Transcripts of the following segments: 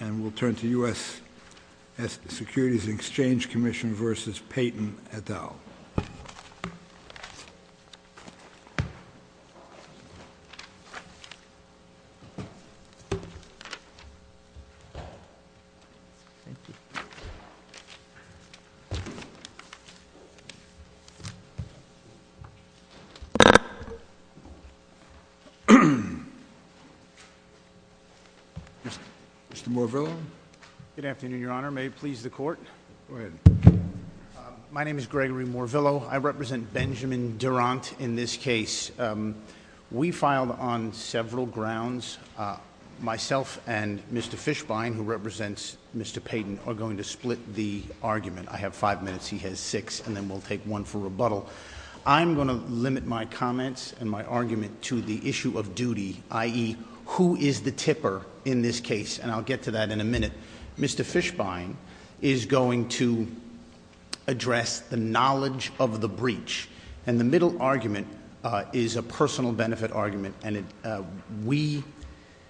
And we'll turn to U.S. Securities and Exchange Commission v. Peyton et al. Mr. Morvillo? Good afternoon, Your Honor. May it please the Court? Go ahead. My name is Gregory Morvillo. I represent Benjamin Durant in this case. We filed on several grounds. Myself and Mr. Fishbein, who represents Mr. Peyton, are going to split the argument. I have five minutes, he has six, and then we'll take one for rebuttal. I'm going to limit my comments and my argument to the issue of duty, i.e., who is the tipper in this case. And I'll get to that in a minute. Mr. Fishbein is going to address the knowledge of the breach. And the middle argument is a personal benefit argument. And we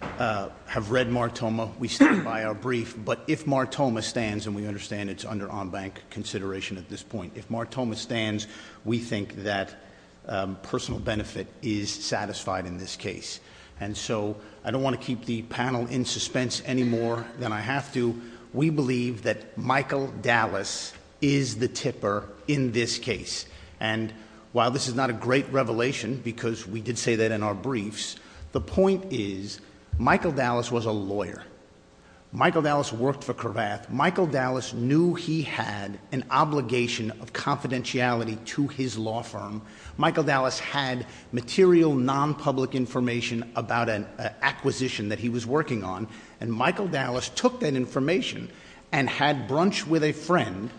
have read Martoma. We stand by our brief. But if Martoma stands, and we understand it's under en banc consideration at this point, if Martoma stands, we think that personal benefit is satisfied in this case. And so, I don't want to keep the panel in suspense any more than I have to. We believe that Michael Dallas is the tipper in this case. And while this is not a great revelation, because we did say that in our briefs, Michael Dallas worked for Cravath. Michael Dallas knew he had an obligation of confidentiality to his law firm. Michael Dallas had material, non-public information about an acquisition that he was working on. And Michael Dallas took that information and had brunch with a friend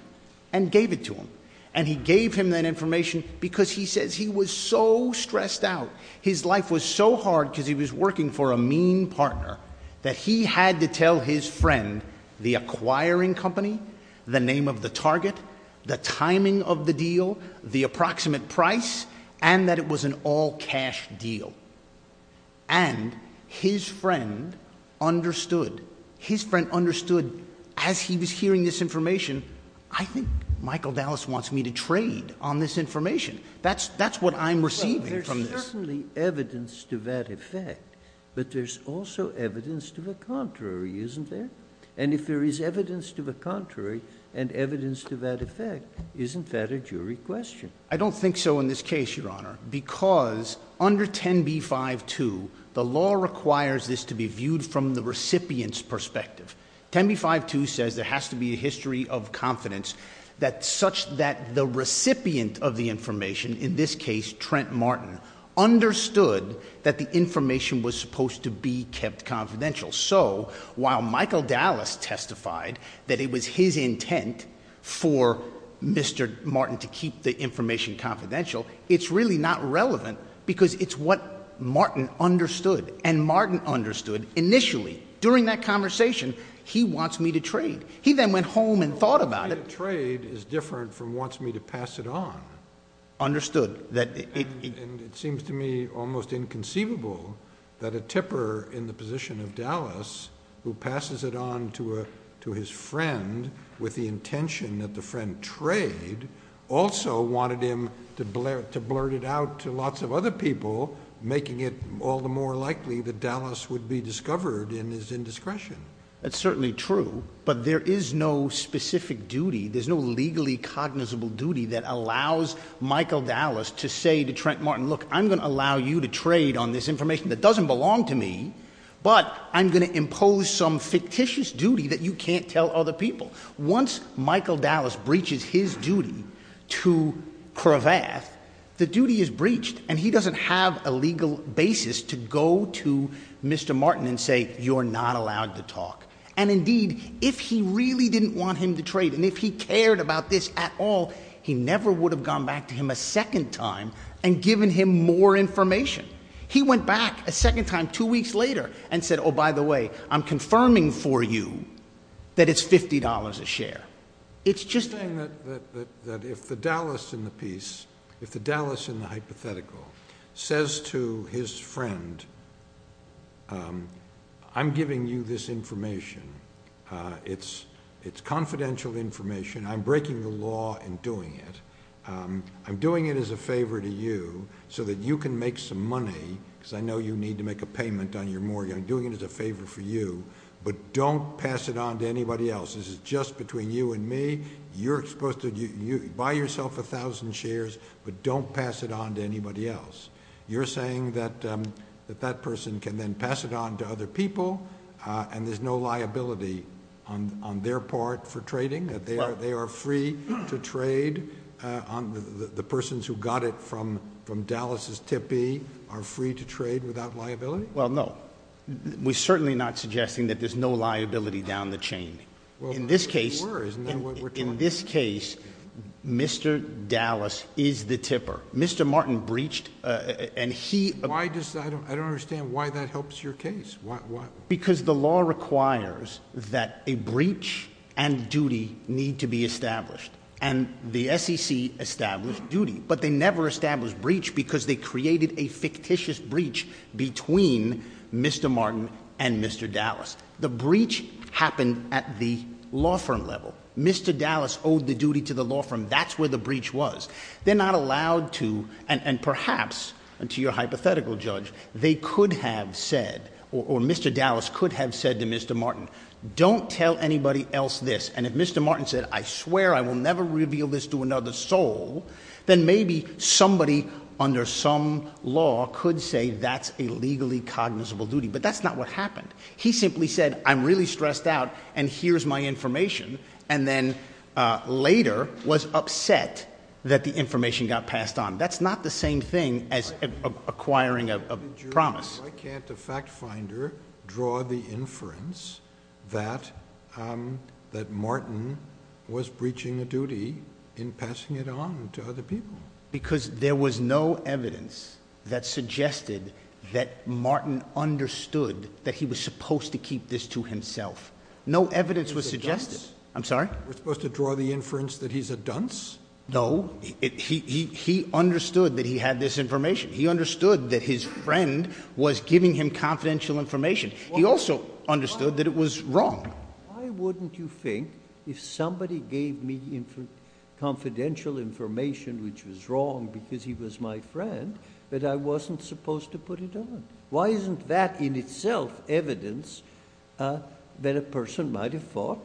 and gave it to him. And he gave him that information because he says he was so stressed out, his life was so hard because he was working for a mean partner, that he had to tell his friend the acquiring company, the name of the target, the timing of the deal, the approximate price, and that it was an all-cash deal. And his friend understood. His friend understood as he was hearing this information, I think Michael Dallas wants me to trade on this information. That's what I'm receiving from this. There's certainly evidence to that effect, but there's also evidence to the contrary, isn't there? And if there is evidence to the contrary and evidence to that effect, isn't that a jury question? I don't think so in this case, Your Honor, because under 10b-5-2, the law requires this to be viewed from the recipient's perspective. 10b-5-2 says there has to be a history of confidence such that the recipient of the information, in this case Trent Martin, understood that the information was supposed to be kept confidential. So while Michael Dallas testified that it was his intent for Mr. Martin to keep the information confidential, it's really not relevant because it's what Martin understood. And Martin understood initially, during that conversation, he wants me to trade. He then went home and thought about it. He wants me to trade is different from wants me to pass it on. Understood. And it seems to me almost inconceivable that a tipper in the position of Dallas who passes it on to his friend with the intention that the friend trade also wanted him to blurt it out to lots of other people, making it all the more likely that Dallas would be discovered in his indiscretion. That's certainly true, but there is no specific duty. There's no legally cognizable duty that allows Michael Dallas to say to Trent Martin, look, I'm going to allow you to trade on this information that doesn't belong to me, but I'm going to impose some fictitious duty that you can't tell other people. Once Michael Dallas breaches his duty to Cravath, the duty is breached, and he doesn't have a legal basis to go to Mr. Martin and say you're not allowed to talk. And indeed, if he really didn't want him to trade and if he cared about this at all, he never would have gone back to him a second time and given him more information. He went back a second time two weeks later and said, oh, by the way, I'm confirming for you that it's $50 a share. It's just that if the Dallas in the piece, if the Dallas in the hypothetical says to his friend, I'm giving you this information, it's confidential information. I'm breaking the law in doing it. I'm doing it as a favor to you so that you can make some money because I know you need to make a payment on your mortgage. I'm doing it as a favor for you, but don't pass it on to anybody else. This is just between you and me. You're supposed to buy yourself 1,000 shares, but don't pass it on to anybody else. You're saying that that person can then pass it on to other people and there's no liability on their part for trading, that they are free to trade on the persons who got it from Dallas's tippy are free to trade without liability? Well, no, we're certainly not suggesting that there's no liability down the chain. In this case, Mr. Dallas is the tipper. Mr. Martin breached and he... I don't understand why that helps your case. Because the law requires that a breach and duty need to be established. And the SEC established duty, but they never established breach because they created a fictitious breach between Mr. Martin and Mr. Dallas. The breach happened at the law firm level. Mr. Dallas owed the duty to the law firm. That's where the breach was. They're not allowed to, and perhaps, to your hypothetical judge, they could have said, or Mr. Dallas could have said to Mr. Martin, don't tell anybody else this. And if Mr. Martin said, I swear I will never reveal this to another soul, then maybe somebody under some law could say that's a legally cognizable duty. But that's not what happened. He simply said, I'm really stressed out, and here's my information, and then later was upset that the information got passed on. That's not the same thing as acquiring a promise. Why can't the fact finder draw the inference that Martin was breaching a duty in passing it on to other people? Because there was no evidence that suggested that Martin understood that he was supposed to keep this to himself. No evidence was suggested. I'm sorry? We're supposed to draw the inference that he's a dunce? No. He understood that he had this information. He understood that his friend was giving him confidential information. He also understood that it was wrong. Why wouldn't you think if somebody gave me confidential information which was wrong because he was my friend that I wasn't supposed to put it on? Why isn't that in itself evidence that a person might have thought,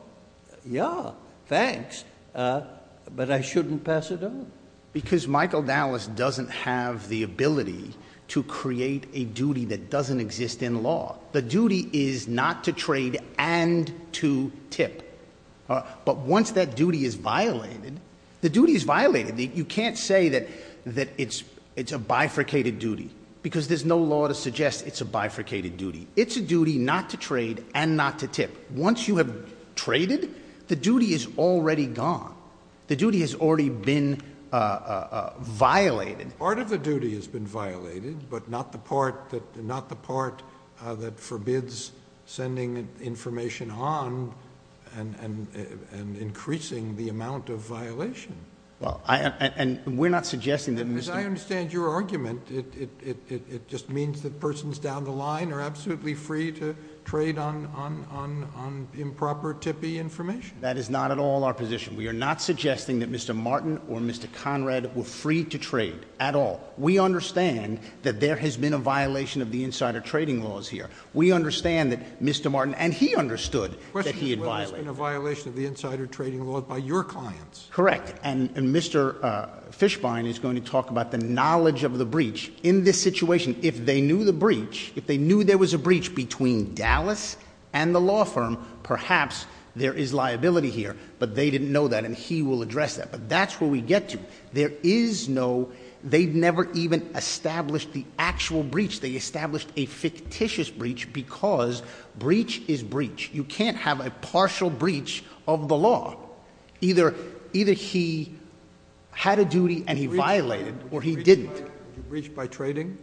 yeah, thanks, but I shouldn't pass it on? Because Michael Dallas doesn't have the ability to create a duty that doesn't exist in law. The duty is not to trade and to tip. But once that duty is violated, the duty is violated. You can't say that it's a bifurcated duty because there's no law to suggest it's a bifurcated duty. It's a duty not to trade and not to tip. Once you have traded, the duty is already gone. The duty has already been violated. Part of the duty has been violated, but not the part that forbids sending information on and increasing the amount of violation. And we're not suggesting that Mr. As I understand your argument, it just means that persons down the line are absolutely free to trade on improper tippy information. That is not at all our position. We are not suggesting that Mr. Martin or Mr. Conrad were free to trade at all. We understand that there has been a violation of the insider trading laws here. We understand that Mr. Martin and he understood that he had violated. The question is whether it's been a violation of the insider trading laws by your clients. Correct. And Mr. Fishbein is going to talk about the knowledge of the breach in this situation. If they knew the breach, if they knew there was a breach between Dallas and the law firm, perhaps there is liability here. But they didn't know that. And he will address that. But that's where we get to. There is no, they've never even established the actual breach. They established a fictitious breach because breach is breach. You can't have a partial breach of the law. Either he had a duty and he violated or he didn't. Breach by trading?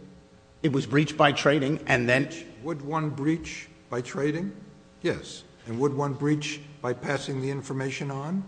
It was breach by trading and then. Would one breach by trading? Yes. And would one breach by passing the information on?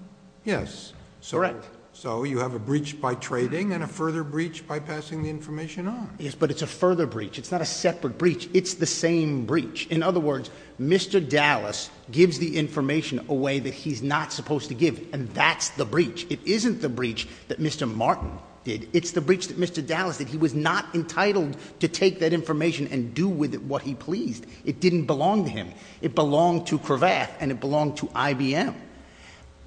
Yes. Correct. So you have a breach by trading and a further breach by passing the information on. Yes, but it's a further breach. It's not a separate breach. It's the same breach. In other words, Mr. Dallas gives the information away that he's not supposed to give. And that's the breach. It isn't the breach that Mr. Martin did. It's the breach that Mr. Dallas did. He was not entitled to take that information and do with it what he pleased. It didn't belong to him. It belonged to Cravath and it belonged to IBM.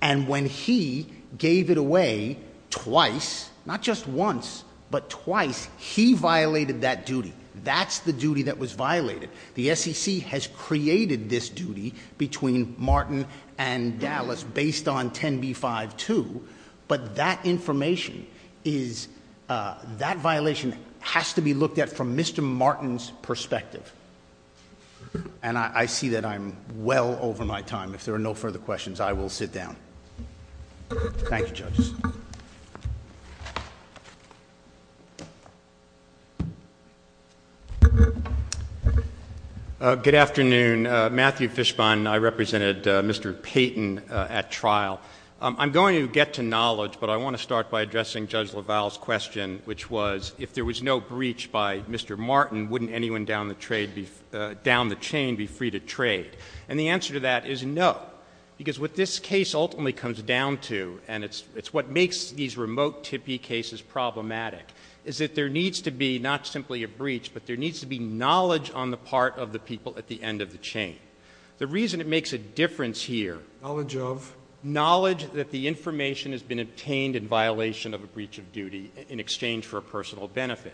And when he gave it away twice, not just once, but twice, he violated that duty. That's the duty that was violated. The SEC has created this duty between Martin and Dallas based on 10b-5-2. But that information is, that violation has to be looked at from Mr. Martin's perspective. And I see that I'm well over my time. If there are no further questions, I will sit down. Thank you, judges. Good afternoon. Matthew Fishbon. I represented Mr. Payton at trial. I'm going to get to knowledge, but I want to start by addressing Judge LaValle's question, which was, if there was no breach by Mr. Payton, would anyone down the chain be free to trade? And the answer to that is no. Because what this case ultimately comes down to, and it's what makes these remote tippy cases problematic, is that there needs to be not simply a breach, but there needs to be knowledge on the part of the people at the end of the chain. The reason it makes a difference here. Knowledge of? Knowledge that the information has been obtained in violation of a breach of duty in exchange for a personal benefit.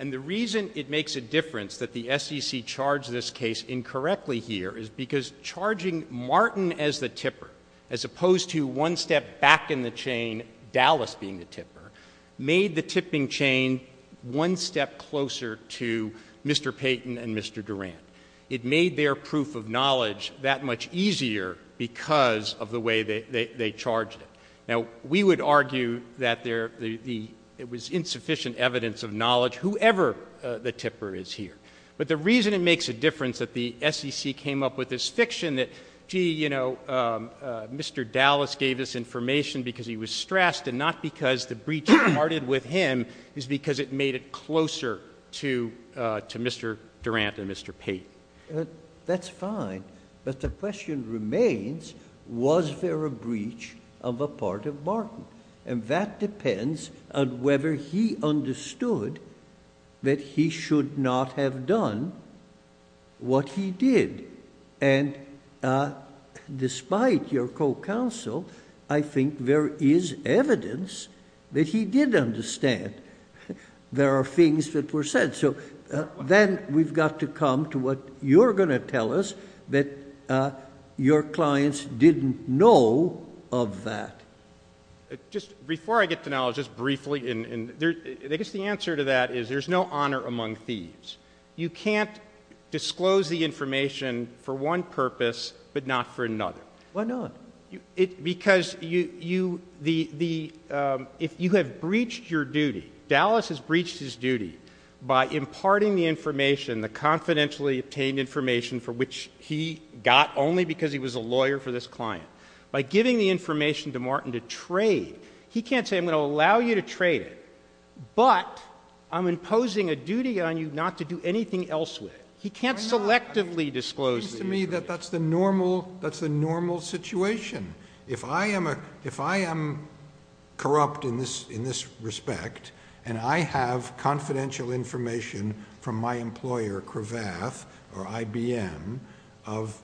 And the reason it makes a difference that the SEC charged this case incorrectly here is because charging Martin as the tipper, as opposed to one step back in the chain, Dallas being the tipper, made the tipping chain one step closer to Mr. Payton and Mr. Durant. It made their proof of knowledge that much easier because of the way they charged it. Now, we would argue that it was insufficient evidence of knowledge, whoever the tipper is here. But the reason it makes a difference that the SEC came up with this fiction that, gee, you know, Mr. Dallas gave us information because he was stressed and not because the breach started with him is because it made it closer to Mr. Durant and Mr. Payton. That's fine. But the question remains, was there a breach of a part of Martin? And that depends on whether he understood that he should not have done what he did. And despite your co-counsel, I think there is evidence that he did understand there are things that were said. So then we've got to come to what you're going to tell us that your clients didn't know of that. Just before I get to knowledge, just briefly, I guess the answer to that is there's no honor among thieves. You can't disclose the information for one purpose but not for another. Why not? Because if you have breached your duty, Dallas has breached his duty by imparting the information, the confidentially obtained information for which he got only because he was a lawyer for this client. By giving the information to Martin to trade, he can't say I'm going to allow you to trade it but I'm imposing a duty on you not to do anything else with it. He can't selectively disclose it. It seems to me that that's the normal situation. If I am corrupt in this respect and I have confidential information from my employer Cravath or IBM of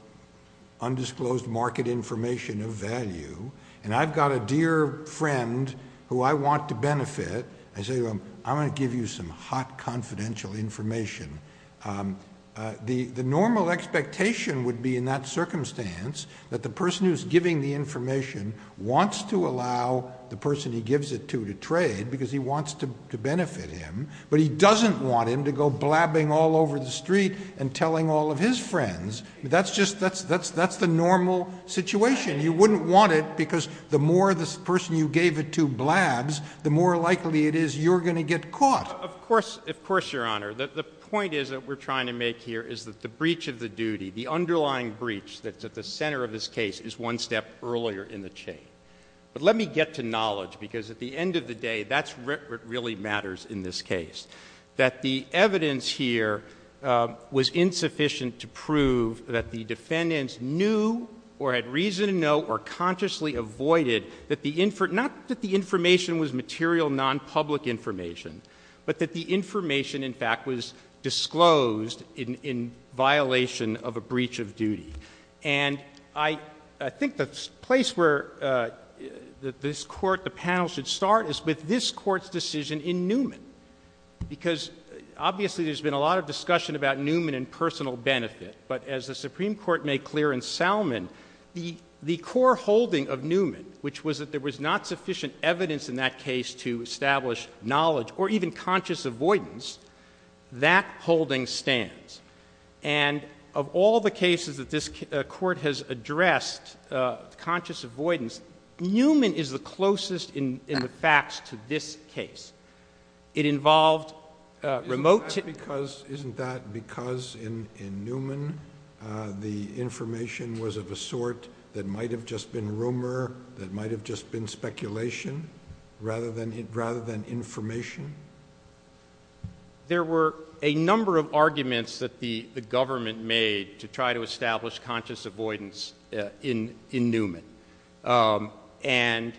undisclosed market information of value and I've got a dear friend who I want to benefit, I say I'm going to give you some hot confidential information. The normal expectation would be in that circumstance that the person who's giving the information wants to allow the person he gives it to to trade because he wants to benefit him but he doesn't want him to go blabbing all over the street and telling all of his friends. That's the normal situation. You wouldn't want it because the more the person you gave it to blabs, the more likely it is you're going to get caught. Of course, Your Honor. The point is that we're trying to make here is that the breach of the case is one step earlier in the chain. Let me get to knowledge because at the end of the day, that's what really matters in this case, that the evidence here was insufficient to prove that the defendants knew or had reason to know or consciously avoided that the information, not that the information was material non-public information, but that the information in fact was disclosed in violation of a breach of the case. I think the place where this court, the panel should start is with this court's decision in Newman because obviously there's been a lot of discussion about Newman and personal benefit. But as the Supreme Court made clear in Salmon, the core holding of Newman, which was that there was not sufficient evidence in that case to establish knowledge or even conscious avoidance, that holding stands. Of all the cases that this court has addressed conscious avoidance, Newman is the closest in the facts to this case. It involved remote... Isn't that because in Newman the information was of a sort that might have just been rumor, that might have just been speculation rather than information? There were a number of arguments that the government made to try to establish conscious avoidance in Newman. And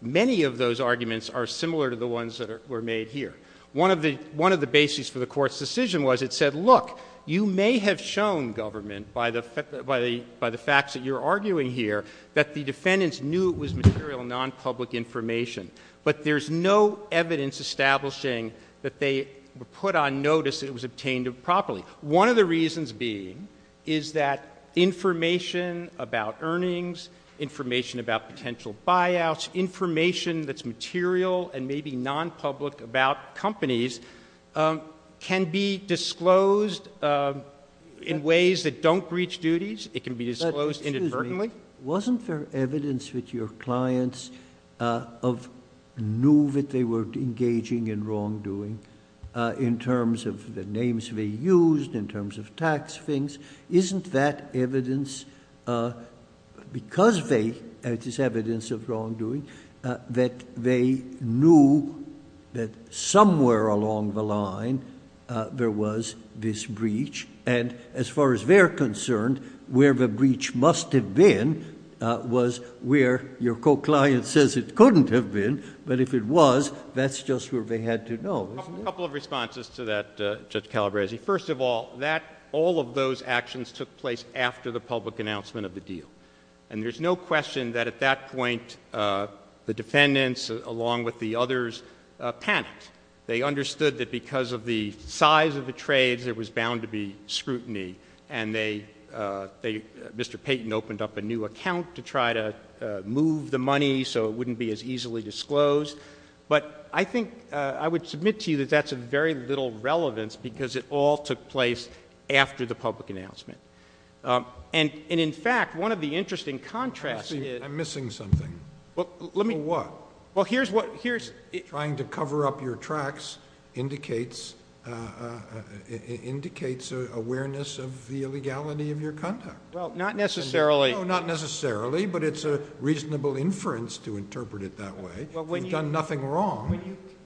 many of those arguments are similar to the ones that were made here. One of the bases for the court's decision was it said, look, you may have shown government by the facts that you're arguing here that the defendants knew it was material non-public information. But there's no evidence establishing that they were put on notice that it was obtained improperly. One of the reasons being is that information about earnings, information about potential buyouts, information that's material and maybe non-public about companies can be disclosed in ways that don't breach duties. It can be disclosed inadvertently. Wasn't there evidence that your clients knew that they were engaging in wrongdoing in terms of the names they used, in terms of tax things? Isn't that evidence because they had this evidence of wrongdoing that they knew that somewhere along the line there was this breach? And as far as they're concerned, where the breach must have been was where your co-client says it couldn't have been. But if it was, that's just where they had to know. A couple of responses to that, Judge Calabresi. First of all, all of those actions took place after the public announcement of the deal. And there's no question that at that point the defendants, along with the others, panicked. They understood that because of the size of the trades there was bound to be scrutiny. And Mr. Payton opened up a new account to try to move the money so it wouldn't be as easily disclosed. But I think I would submit to you that that's of very little relevance because it all took place after the public announcement. And, in fact, one of the interesting contrasts is — I'm missing something. For what? Well, here's what — Trying to cover up your tracks indicates awareness of the illegality of your conduct. Well, not necessarily. No, not necessarily, but it's a reasonable inference to interpret it that way. You've done nothing wrong.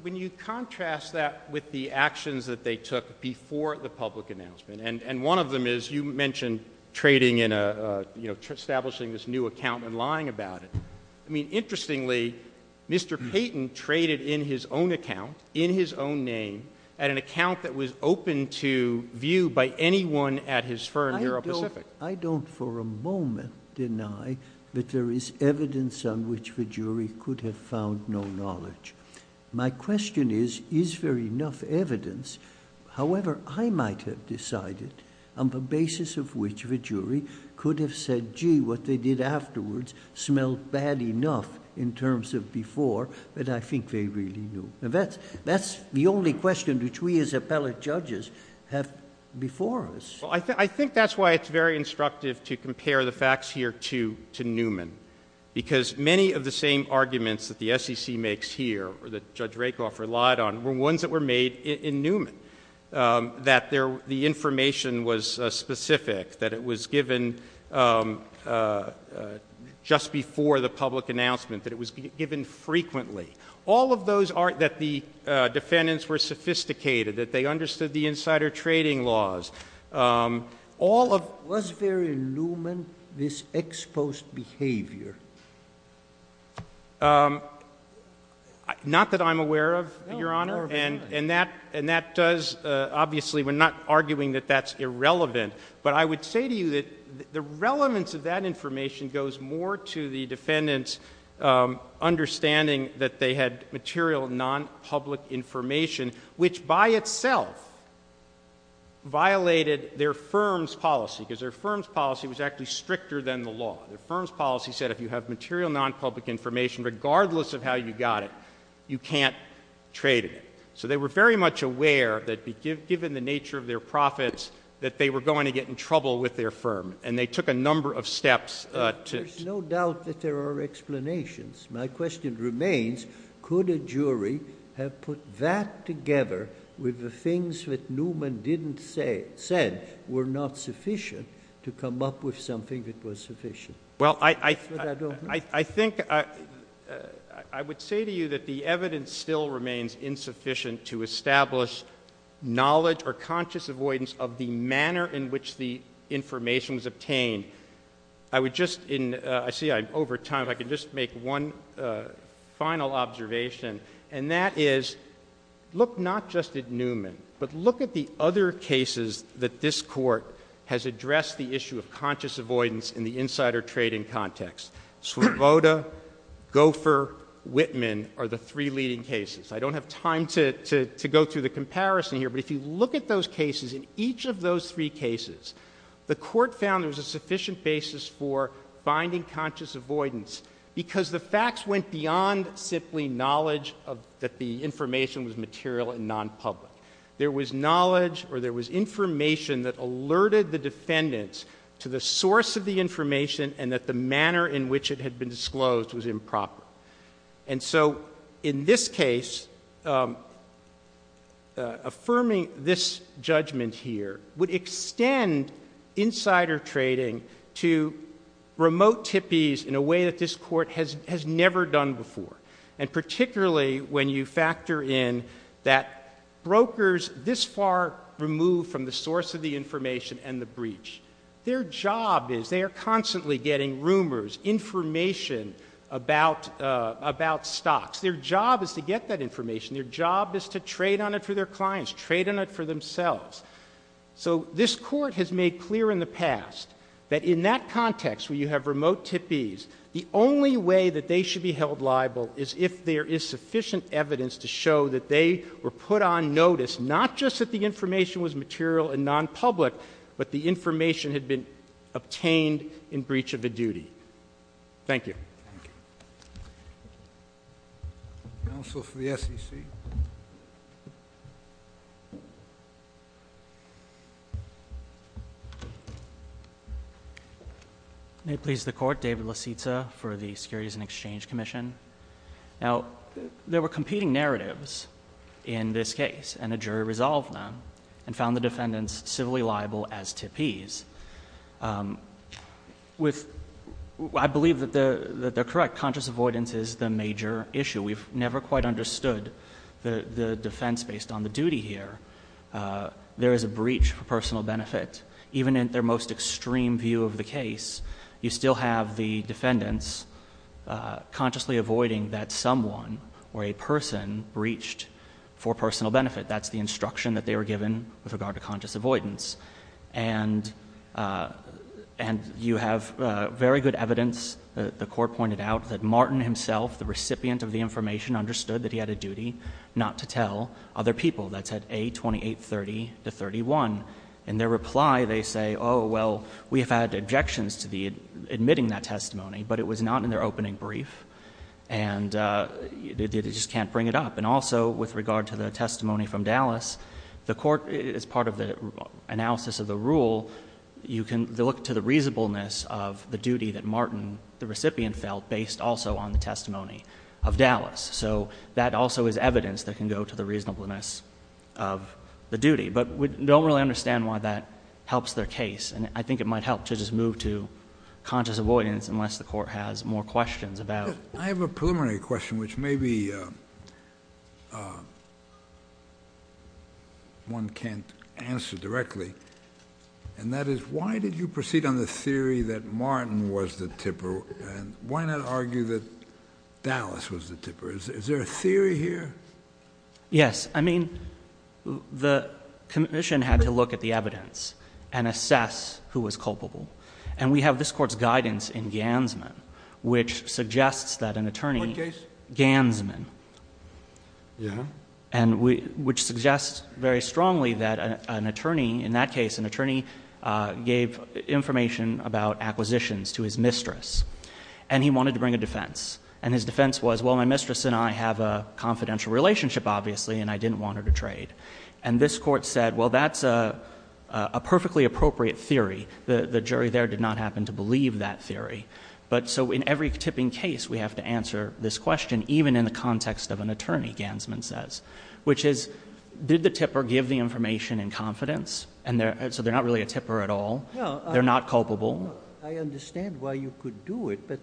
When you contrast that with the actions that they took before the public announcement, and one of them is you mentioned trading in a — establishing this new account and lying about it. I mean, interestingly, Mr. Payton traded in his own account, in his own name, at an account that was open to view by anyone at his firm, Aeropacific. I don't for a moment deny that there is evidence on which the jury could have found no knowledge. My question is, is there enough evidence? However, I might have decided on the basis of which the jury could have said, gee, what they did afterwards smelled bad enough in terms of before, but I think they really knew. Now, that's the only question which we as appellate judges have before us. Well, I think that's why it's very instructive to compare the facts here to Newman, because many of the same arguments that the SEC makes here or that Judge Rakoff relied on were ones that were made in Newman, that the information was specific, that it was given just before the public announcement, that it was given frequently. All of those are — that the defendants were sophisticated, that they understood the insider trading laws. All of — Was there in Newman this exposed behavior? Not that I'm aware of, Your Honor. And that does — obviously, we're not arguing that that's irrelevant. But I would say to you that the relevance of that information goes more to the defendants' understanding that they had material nonpublic information, which by itself violated their firm's policy, because their firm's policy was actually stricter than the law. Their firm's policy said if you have material nonpublic information, regardless of how you got it, you can't trade it. So they were very much aware that given the nature of their profits, that they were going to get in trouble with their firm. And they took a number of steps to — There's no doubt that there are explanations. My question remains, could a jury have put that together with the things that Newman didn't say — said were not sufficient to come up with something that was sufficient? Well, I — But I don't know. I think — I would say to you that the evidence still remains insufficient to establish knowledge or conscious avoidance of the manner in which the information was obtained. I would just — I see I'm over time. If I could just make one final observation, and that is look not just at Newman, but look at the other cases that this Court has addressed the issue of conscious avoidance in the insider trading context. Svoboda, Gopher, Whitman are the three leading cases. I don't have time to go through the comparison here, but if you look at those cases, in each of those three cases, the Court found there was a sufficient basis for finding conscious avoidance because the facts went beyond simply knowledge of — that the information was material and nonpublic. There was knowledge or there was information that alerted the defendants to the source of the information and that the manner in which it had been disclosed was improper. And so in this case, affirming this judgment here would extend insider trading to remote tippies in a way that this Court has never done before. And particularly when you factor in that brokers this far removed from the case, their job is — they are constantly getting rumors, information about stocks. Their job is to get that information. Their job is to trade on it for their clients, trade on it for themselves. So this Court has made clear in the past that in that context where you have remote tippies, the only way that they should be held liable is if there is sufficient evidence to show that they were put on notice, not just that the obtained in breach of a duty. Thank you. JUSTICE SCALIA. Thank you. Counsel for the SEC. DAVID LAZIZA. May it please the Court, David Laziza for the Securities and Exchange Commission. Now, there were competing narratives in this case and a jury resolved them and found the defendants civilly liable as tippies. I believe that they're correct. Conscious avoidance is the major issue. We've never quite understood the defense based on the duty here. There is a breach for personal benefit. Even in their most extreme view of the case, you still have the defendants consciously avoiding that someone or a person breached for personal benefit. That's the instruction that they were given with regard to conscious avoidance. And you have very good evidence, the Court pointed out, that Martin himself, the recipient of the information, understood that he had a duty not to tell other people. That's at A2830 to 31. In their reply, they say, oh, well, we have had objections to the admitting that testimony, but it was not in their opening brief, and they just can't bring it up. And also with regard to the testimony from Dallas, the Court, as part of the analysis of the rule, you can look to the reasonableness of the duty that Martin, the recipient, felt based also on the testimony of Dallas. So that also is evidence that can go to the reasonableness of the duty. But we don't really understand why that helps their case, and I think it might help to just move to conscious avoidance unless the Court has more questions about it. I have a preliminary question which maybe one can't answer directly, and that is why did you proceed on the theory that Martin was the tipper, and why not argue that Dallas was the tipper? Is there a theory here? Yes. I mean, the Commission had to look at the evidence and assess who was culpable. And we have this Court's guidance in Gansman, which suggests that an attorney— What case? Gansman. Yeah. And which suggests very strongly that an attorney, in that case, an attorney gave information about acquisitions to his mistress, and he wanted to bring a defense. And his defense was, well, my mistress and I have a confidential relationship, obviously, and I didn't want her to trade. And this Court said, well, that's a perfectly appropriate theory. The jury there did not happen to believe that theory. So in every tipping case, we have to answer this question, even in the context of an attorney, Gansman says. Which is, did the tipper give the information in confidence? So they're not really a tipper at all. They're not culpable. I understand why you could do it, but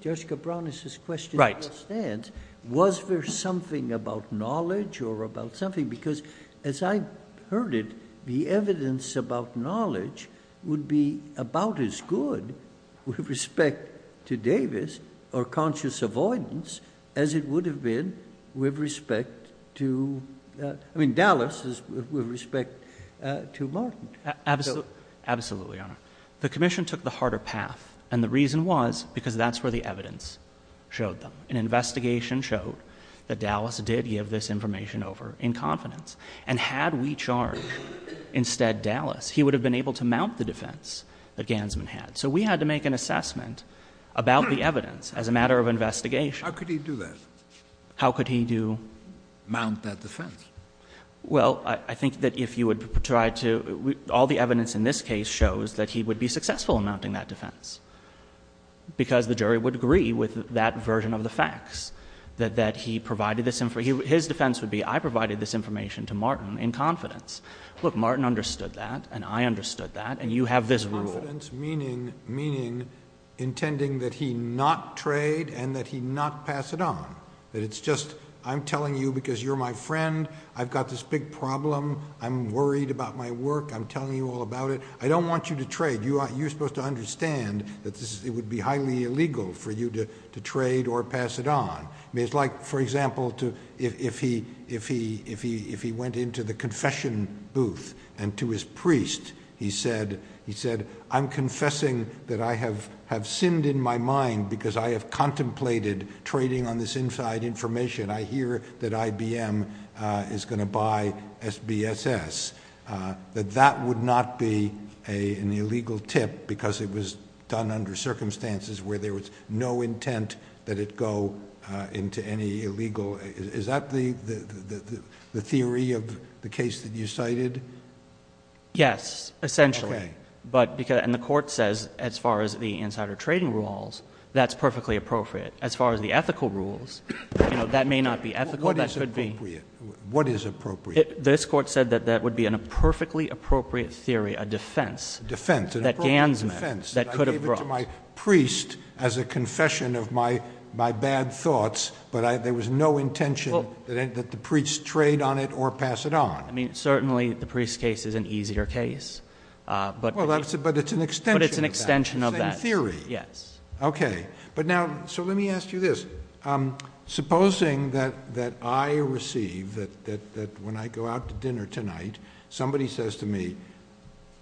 Judge Cabranes's question doesn't stand. Right. Was there something about knowledge or about something? Because as I heard it, the evidence about knowledge would be about as good with respect to Davis or conscious avoidance as it would have been with respect to—I mean, Dallas is with respect to Martin. Absolutely, Your Honor. The Commission took the harder path, and the reason was because that's where the evidence showed them. An investigation showed that Dallas did give this information over in confidence. And had we charged instead Dallas, he would have been able to mount the defense that Gansman had. So we had to make an assessment about the evidence as a matter of investigation. How could he do that? How could he do— Mount that defense? Well, I think that if you would try to—all the evidence in this case shows that he would be successful in mounting that defense because the jury would agree with that version of the facts, that he provided this—his defense would be, I provided this information to Martin in confidence. Look, Martin understood that, and I understood that, and you have this rule. Confidence meaning intending that he not trade and that he not pass it on, that it's just I'm telling you because you're my friend. I've got this big problem. I'm worried about my work. I'm telling you all about it. I don't want you to trade. You're supposed to understand that it would be highly illegal for you to trade or pass it on. It's like, for example, if he went into the confession booth and to his priest he said, I'm confessing that I have sinned in my mind because I have contemplated trading on this inside information. I hear that IBM is going to buy SBSS, that that would not be an illegal tip because it was done under circumstances where there was no intent that it go into any illegal—is that the theory of the case that you cited? Yes, essentially. Okay. The court says as far as the insider trading rules, that's perfectly appropriate. As far as the ethical rules, that may not be ethical. That could be— What is appropriate? This court said that that would be a perfectly appropriate theory, a defense. A defense. An appropriate defense. I gave it to my priest as a confession of my bad thoughts, but there was no intention that the priest trade on it or pass it on. Certainly the priest case is an easier case. But it's an extension of that. Same theory. Yes. Okay. But now, so let me ask you this. Supposing that I receive, that when I go out to dinner tonight, somebody says to me,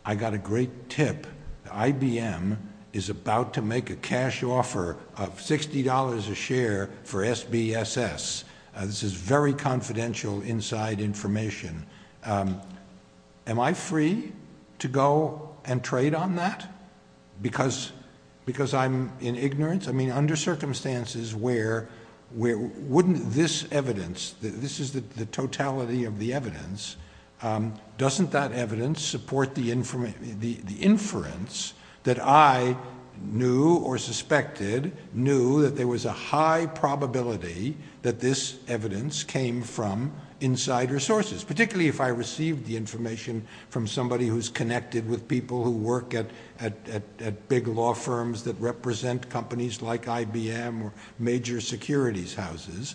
I got a great tip. IBM is about to make a cash offer of $60 a share for SBSS. This is very confidential inside information. Am I free to go and trade on that because I'm in ignorance? I mean, under circumstances where wouldn't this evidence, this is the totality of the evidence, doesn't that evidence support the inference that I knew or suspected knew that there was a high probability that this evidence came from insider sources? Particularly if I received the information from somebody who's connected with people who work at big law firms that represent companies like IBM or major securities houses.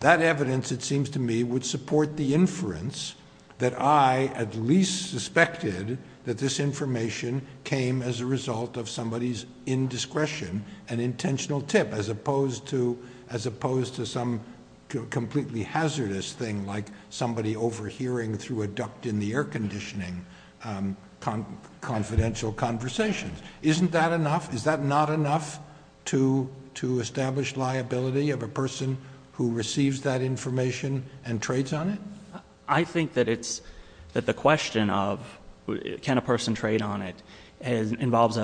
That evidence, it seems to me, would support the inference that I at least suspected that this information came as a result of somebody's indiscretion, an intentional tip, as opposed to some completely hazardous thing like somebody overhearing through a duct in the air conditioning confidential conversations. Isn't that enough? Is that not enough to establish liability of a person who receives that information and trades on it? I think that the question of can a person trade on it involves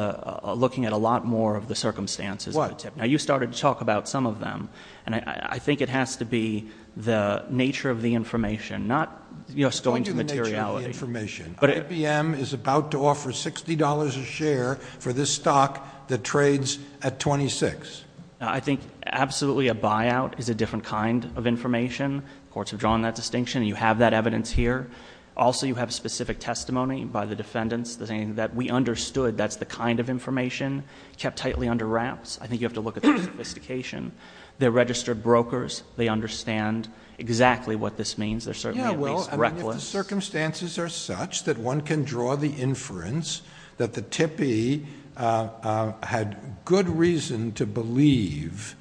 looking at a lot more of the circumstances of the tip. Now, you started to talk about some of them, and I think it has to be the information, not just going to materiality. I told you the nature of the information. IBM is about to offer $60 a share for this stock that trades at $26. I think absolutely a buyout is a different kind of information. Courts have drawn that distinction, and you have that evidence here. Also, you have specific testimony by the defendants that we understood that's the kind of information, kept tightly under wraps. I think you have to look at the sophistication. They're registered brokers. They understand exactly what this means. They're certainly at least reckless. If the circumstances are such that one can draw the inference that the tippee had good reason to believe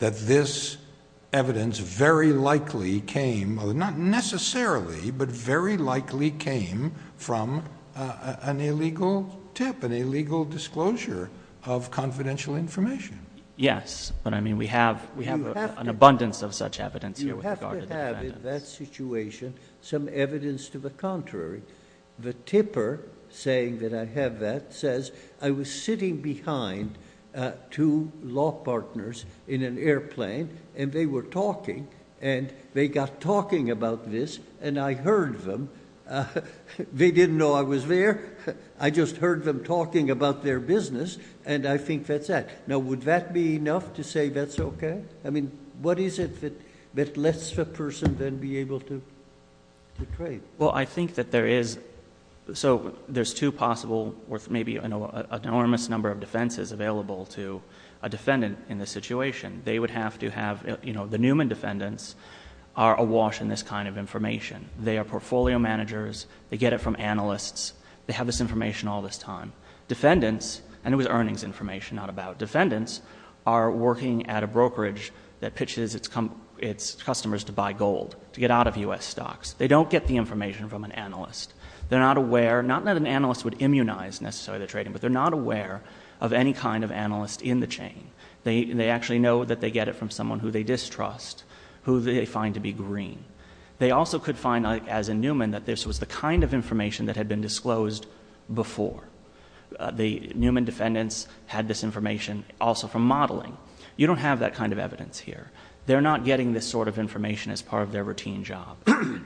that this evidence very likely came, not necessarily, but very likely came from an illegal tip, an illegal disclosure of confidential information. Yes, but I mean we have an abundance of such evidence here. You have to have in that situation some evidence to the contrary. The tipper saying that I have that says I was sitting behind two law partners in an airplane, and they were talking, and they got talking about this, and I heard them. They didn't know I was there. I just heard them talking about their business, and I think that's that. Now, would that be enough to say that's okay? I mean, what is it that lets the person then be able to trade? Well, I think that there is... so there's two possible or maybe an enormous number of defenses available to a defendant in this situation. They would have to have... the Newman defendants are awash in this kind of information. They are portfolio managers. They get it from analysts. They have this information all this time. Defendants, and it was earnings information, not about defendants, are working at a brokerage that pitches its customers to buy gold, to get out of U.S. stocks. They don't get the information from an analyst. They're not aware... not that an analyst would immunize necessarily the trading, but they're not aware of any kind of analyst in the chain. They actually know that they get it from someone who they distrust, who they find to be green. They also could find, as in Newman, that this was the kind of information that had been disclosed before. The Newman defendants had this information also from modeling. You don't have that kind of evidence here. They're not getting this sort of information as part of their routine job.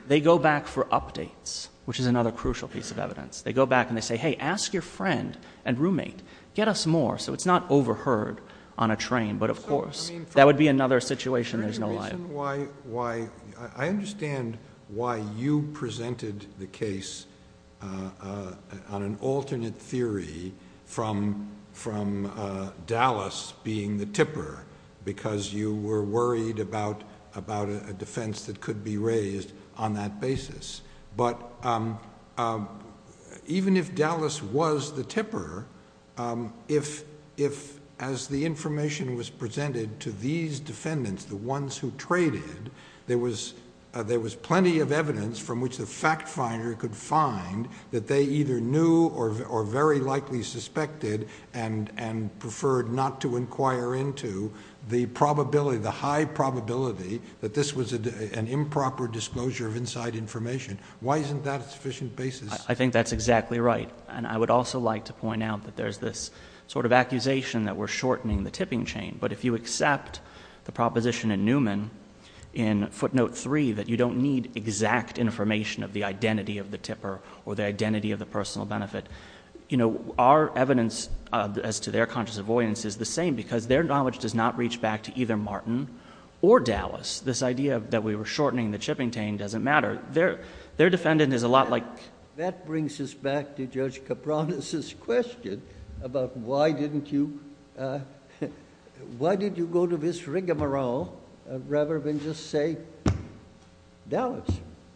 They go back for updates, which is another crucial piece of evidence. They go back and they say, hey, ask your friend and roommate. Get us more so it's not overheard on a train. But, of course, that would be another situation there's no life. I understand why you presented the case on an alternate theory from Dallas being the tipper, because you were worried about a defense that could be raised on that basis. But even if Dallas was the tipper, if as the information was presented to these defendants, the ones who traded, there was plenty of evidence from which the fact finder could find that they either knew or very likely suspected and preferred not to inquire into the probability, the high probability that this was an improper disclosure of inside information. Why isn't that a sufficient basis? I think that's exactly right. I would also like to point out that there's this sort of accusation that we're shortening the tipping chain. But if you accept the proposition in Newman in footnote 3 that you don't need exact information of the identity of the tipper or the identity of the personal benefit, our evidence as to their conscious avoidance is the same because their knowledge does not reach back to either Martin or Dallas. This idea that we were shortening the tipping chain doesn't matter. Their defendant is a lot like... Why did you go to this rigamarole rather than just say Dallas?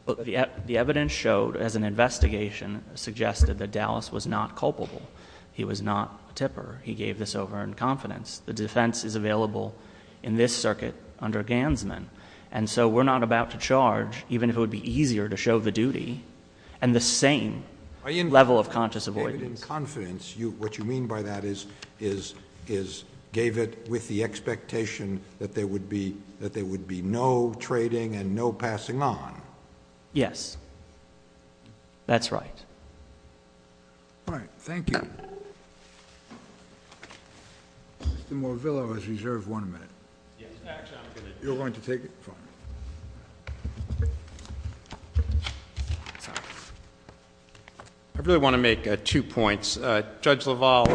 The evidence showed as an investigation suggested that Dallas was not culpable. He was not a tipper. He gave this over in confidence. The defense is available in this circuit under Gansman. And so we're not about to charge, even if it would be easier to show the duty and the same level of conscious avoidance. In confidence, what you mean by that is gave it with the expectation that there would be no trading and no passing on. Yes. That's right. All right. Thank you. Mr. Morvillo has reserved one minute. You're going to take it from him. I really want to make two points. Judge LaValle,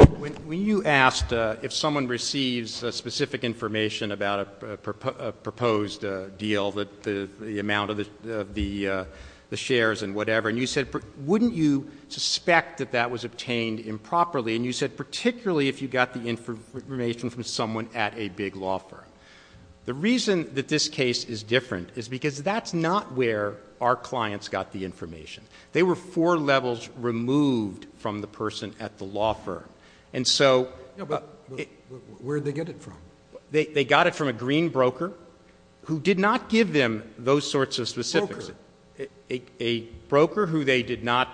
when you asked if someone receives specific information about a proposed deal, the amount of the shares and whatever, and you said, wouldn't you suspect that that was obtained improperly? And you said particularly if you got the information from someone at a big law firm. The reason that this case is different is because that's not where our clients got the information. They were four levels removed from the person at the law firm. And so they got it from a green broker who did not give them those sorts of specifics. A broker who they did not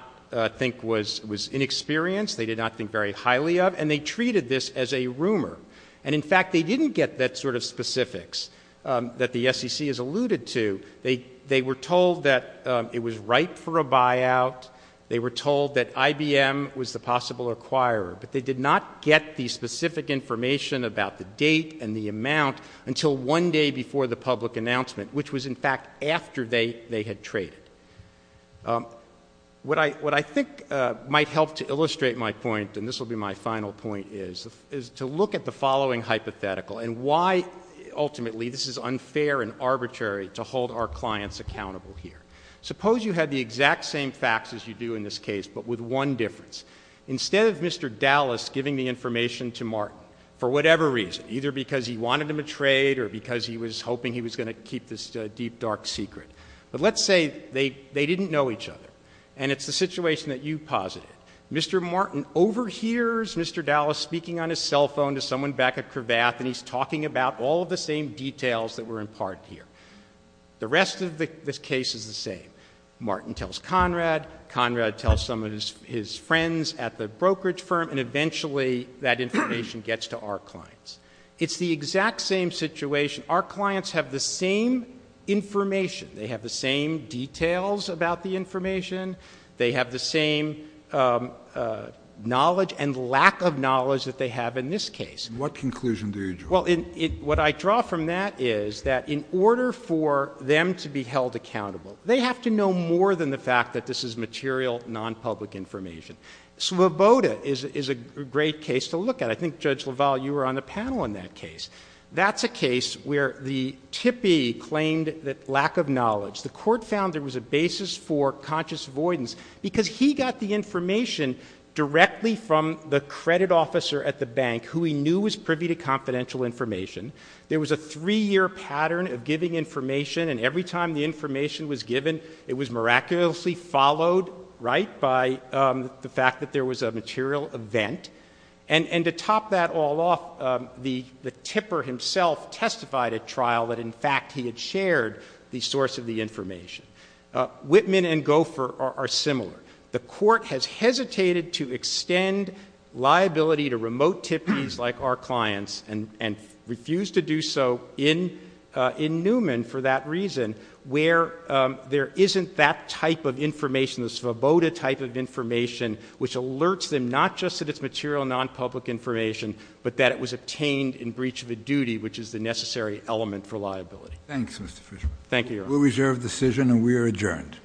think was inexperienced. They did not think very highly of. And they treated this as a rumor. And, in fact, they didn't get that sort of specifics that the SEC has alluded to. They were told that it was ripe for a buyout. They were told that IBM was the possible acquirer. But they did not get the specific information about the date and the amount until one day before the public announcement, which was, in fact, after they had traded. What I think might help to illustrate my point, and this will be my final point, is to look at the following hypothetical and why, ultimately, this is unfair and arbitrary to hold our clients accountable here. Suppose you had the exact same facts as you do in this case, but with one difference. Instead of Mr. Dallas giving the information to Martin for whatever reason, either because he wanted him to trade or because he was hoping he was going to keep this deep, dark secret. But let's say they didn't know each other. And it's the situation that you posited. Mr. Martin overhears Mr. Dallas speaking on his cell phone to someone back at Cravath, and he's talking about all of the same details that were imparted here. The rest of the case is the same. Martin tells Conrad. Conrad tells some of his friends at the brokerage firm. And eventually, that information gets to our clients. It's the exact same situation. Our clients have the same information. They have the same details about the information. They have the same knowledge and lack of knowledge that they have in this case. What conclusion do you draw? Well, what I draw from that is that in order for them to be held accountable, they have to know more than the fact that this is material, non-public information. Sloboda is a great case to look at. I think, Judge LaValle, you were on the panel in that case. That's a case where the TIPI claimed that lack of knowledge. The court found there was a basis for conscious avoidance because he got the information directly from the credit officer at the bank who he knew was privy to confidential information. There was a three-year pattern of giving information. And every time the information was given, it was miraculously followed, right, by the fact that there was a material event. And to top that all off, the TIPI himself testified at trial that, in fact, he had shared the source of the information. Whitman and Gopher are similar. The court has hesitated to extend liability to remote TIPIs like our clients and refused to do so in Newman for that reason, where there isn't that type of information, the Sloboda type of information, which alerts them not just that it's material, non-public information, but that it was obtained in breach of a Thanks, Mr. Fishman. Thank you, Your Honor. We reserve the decision, and we are adjourned. Court is adjourned.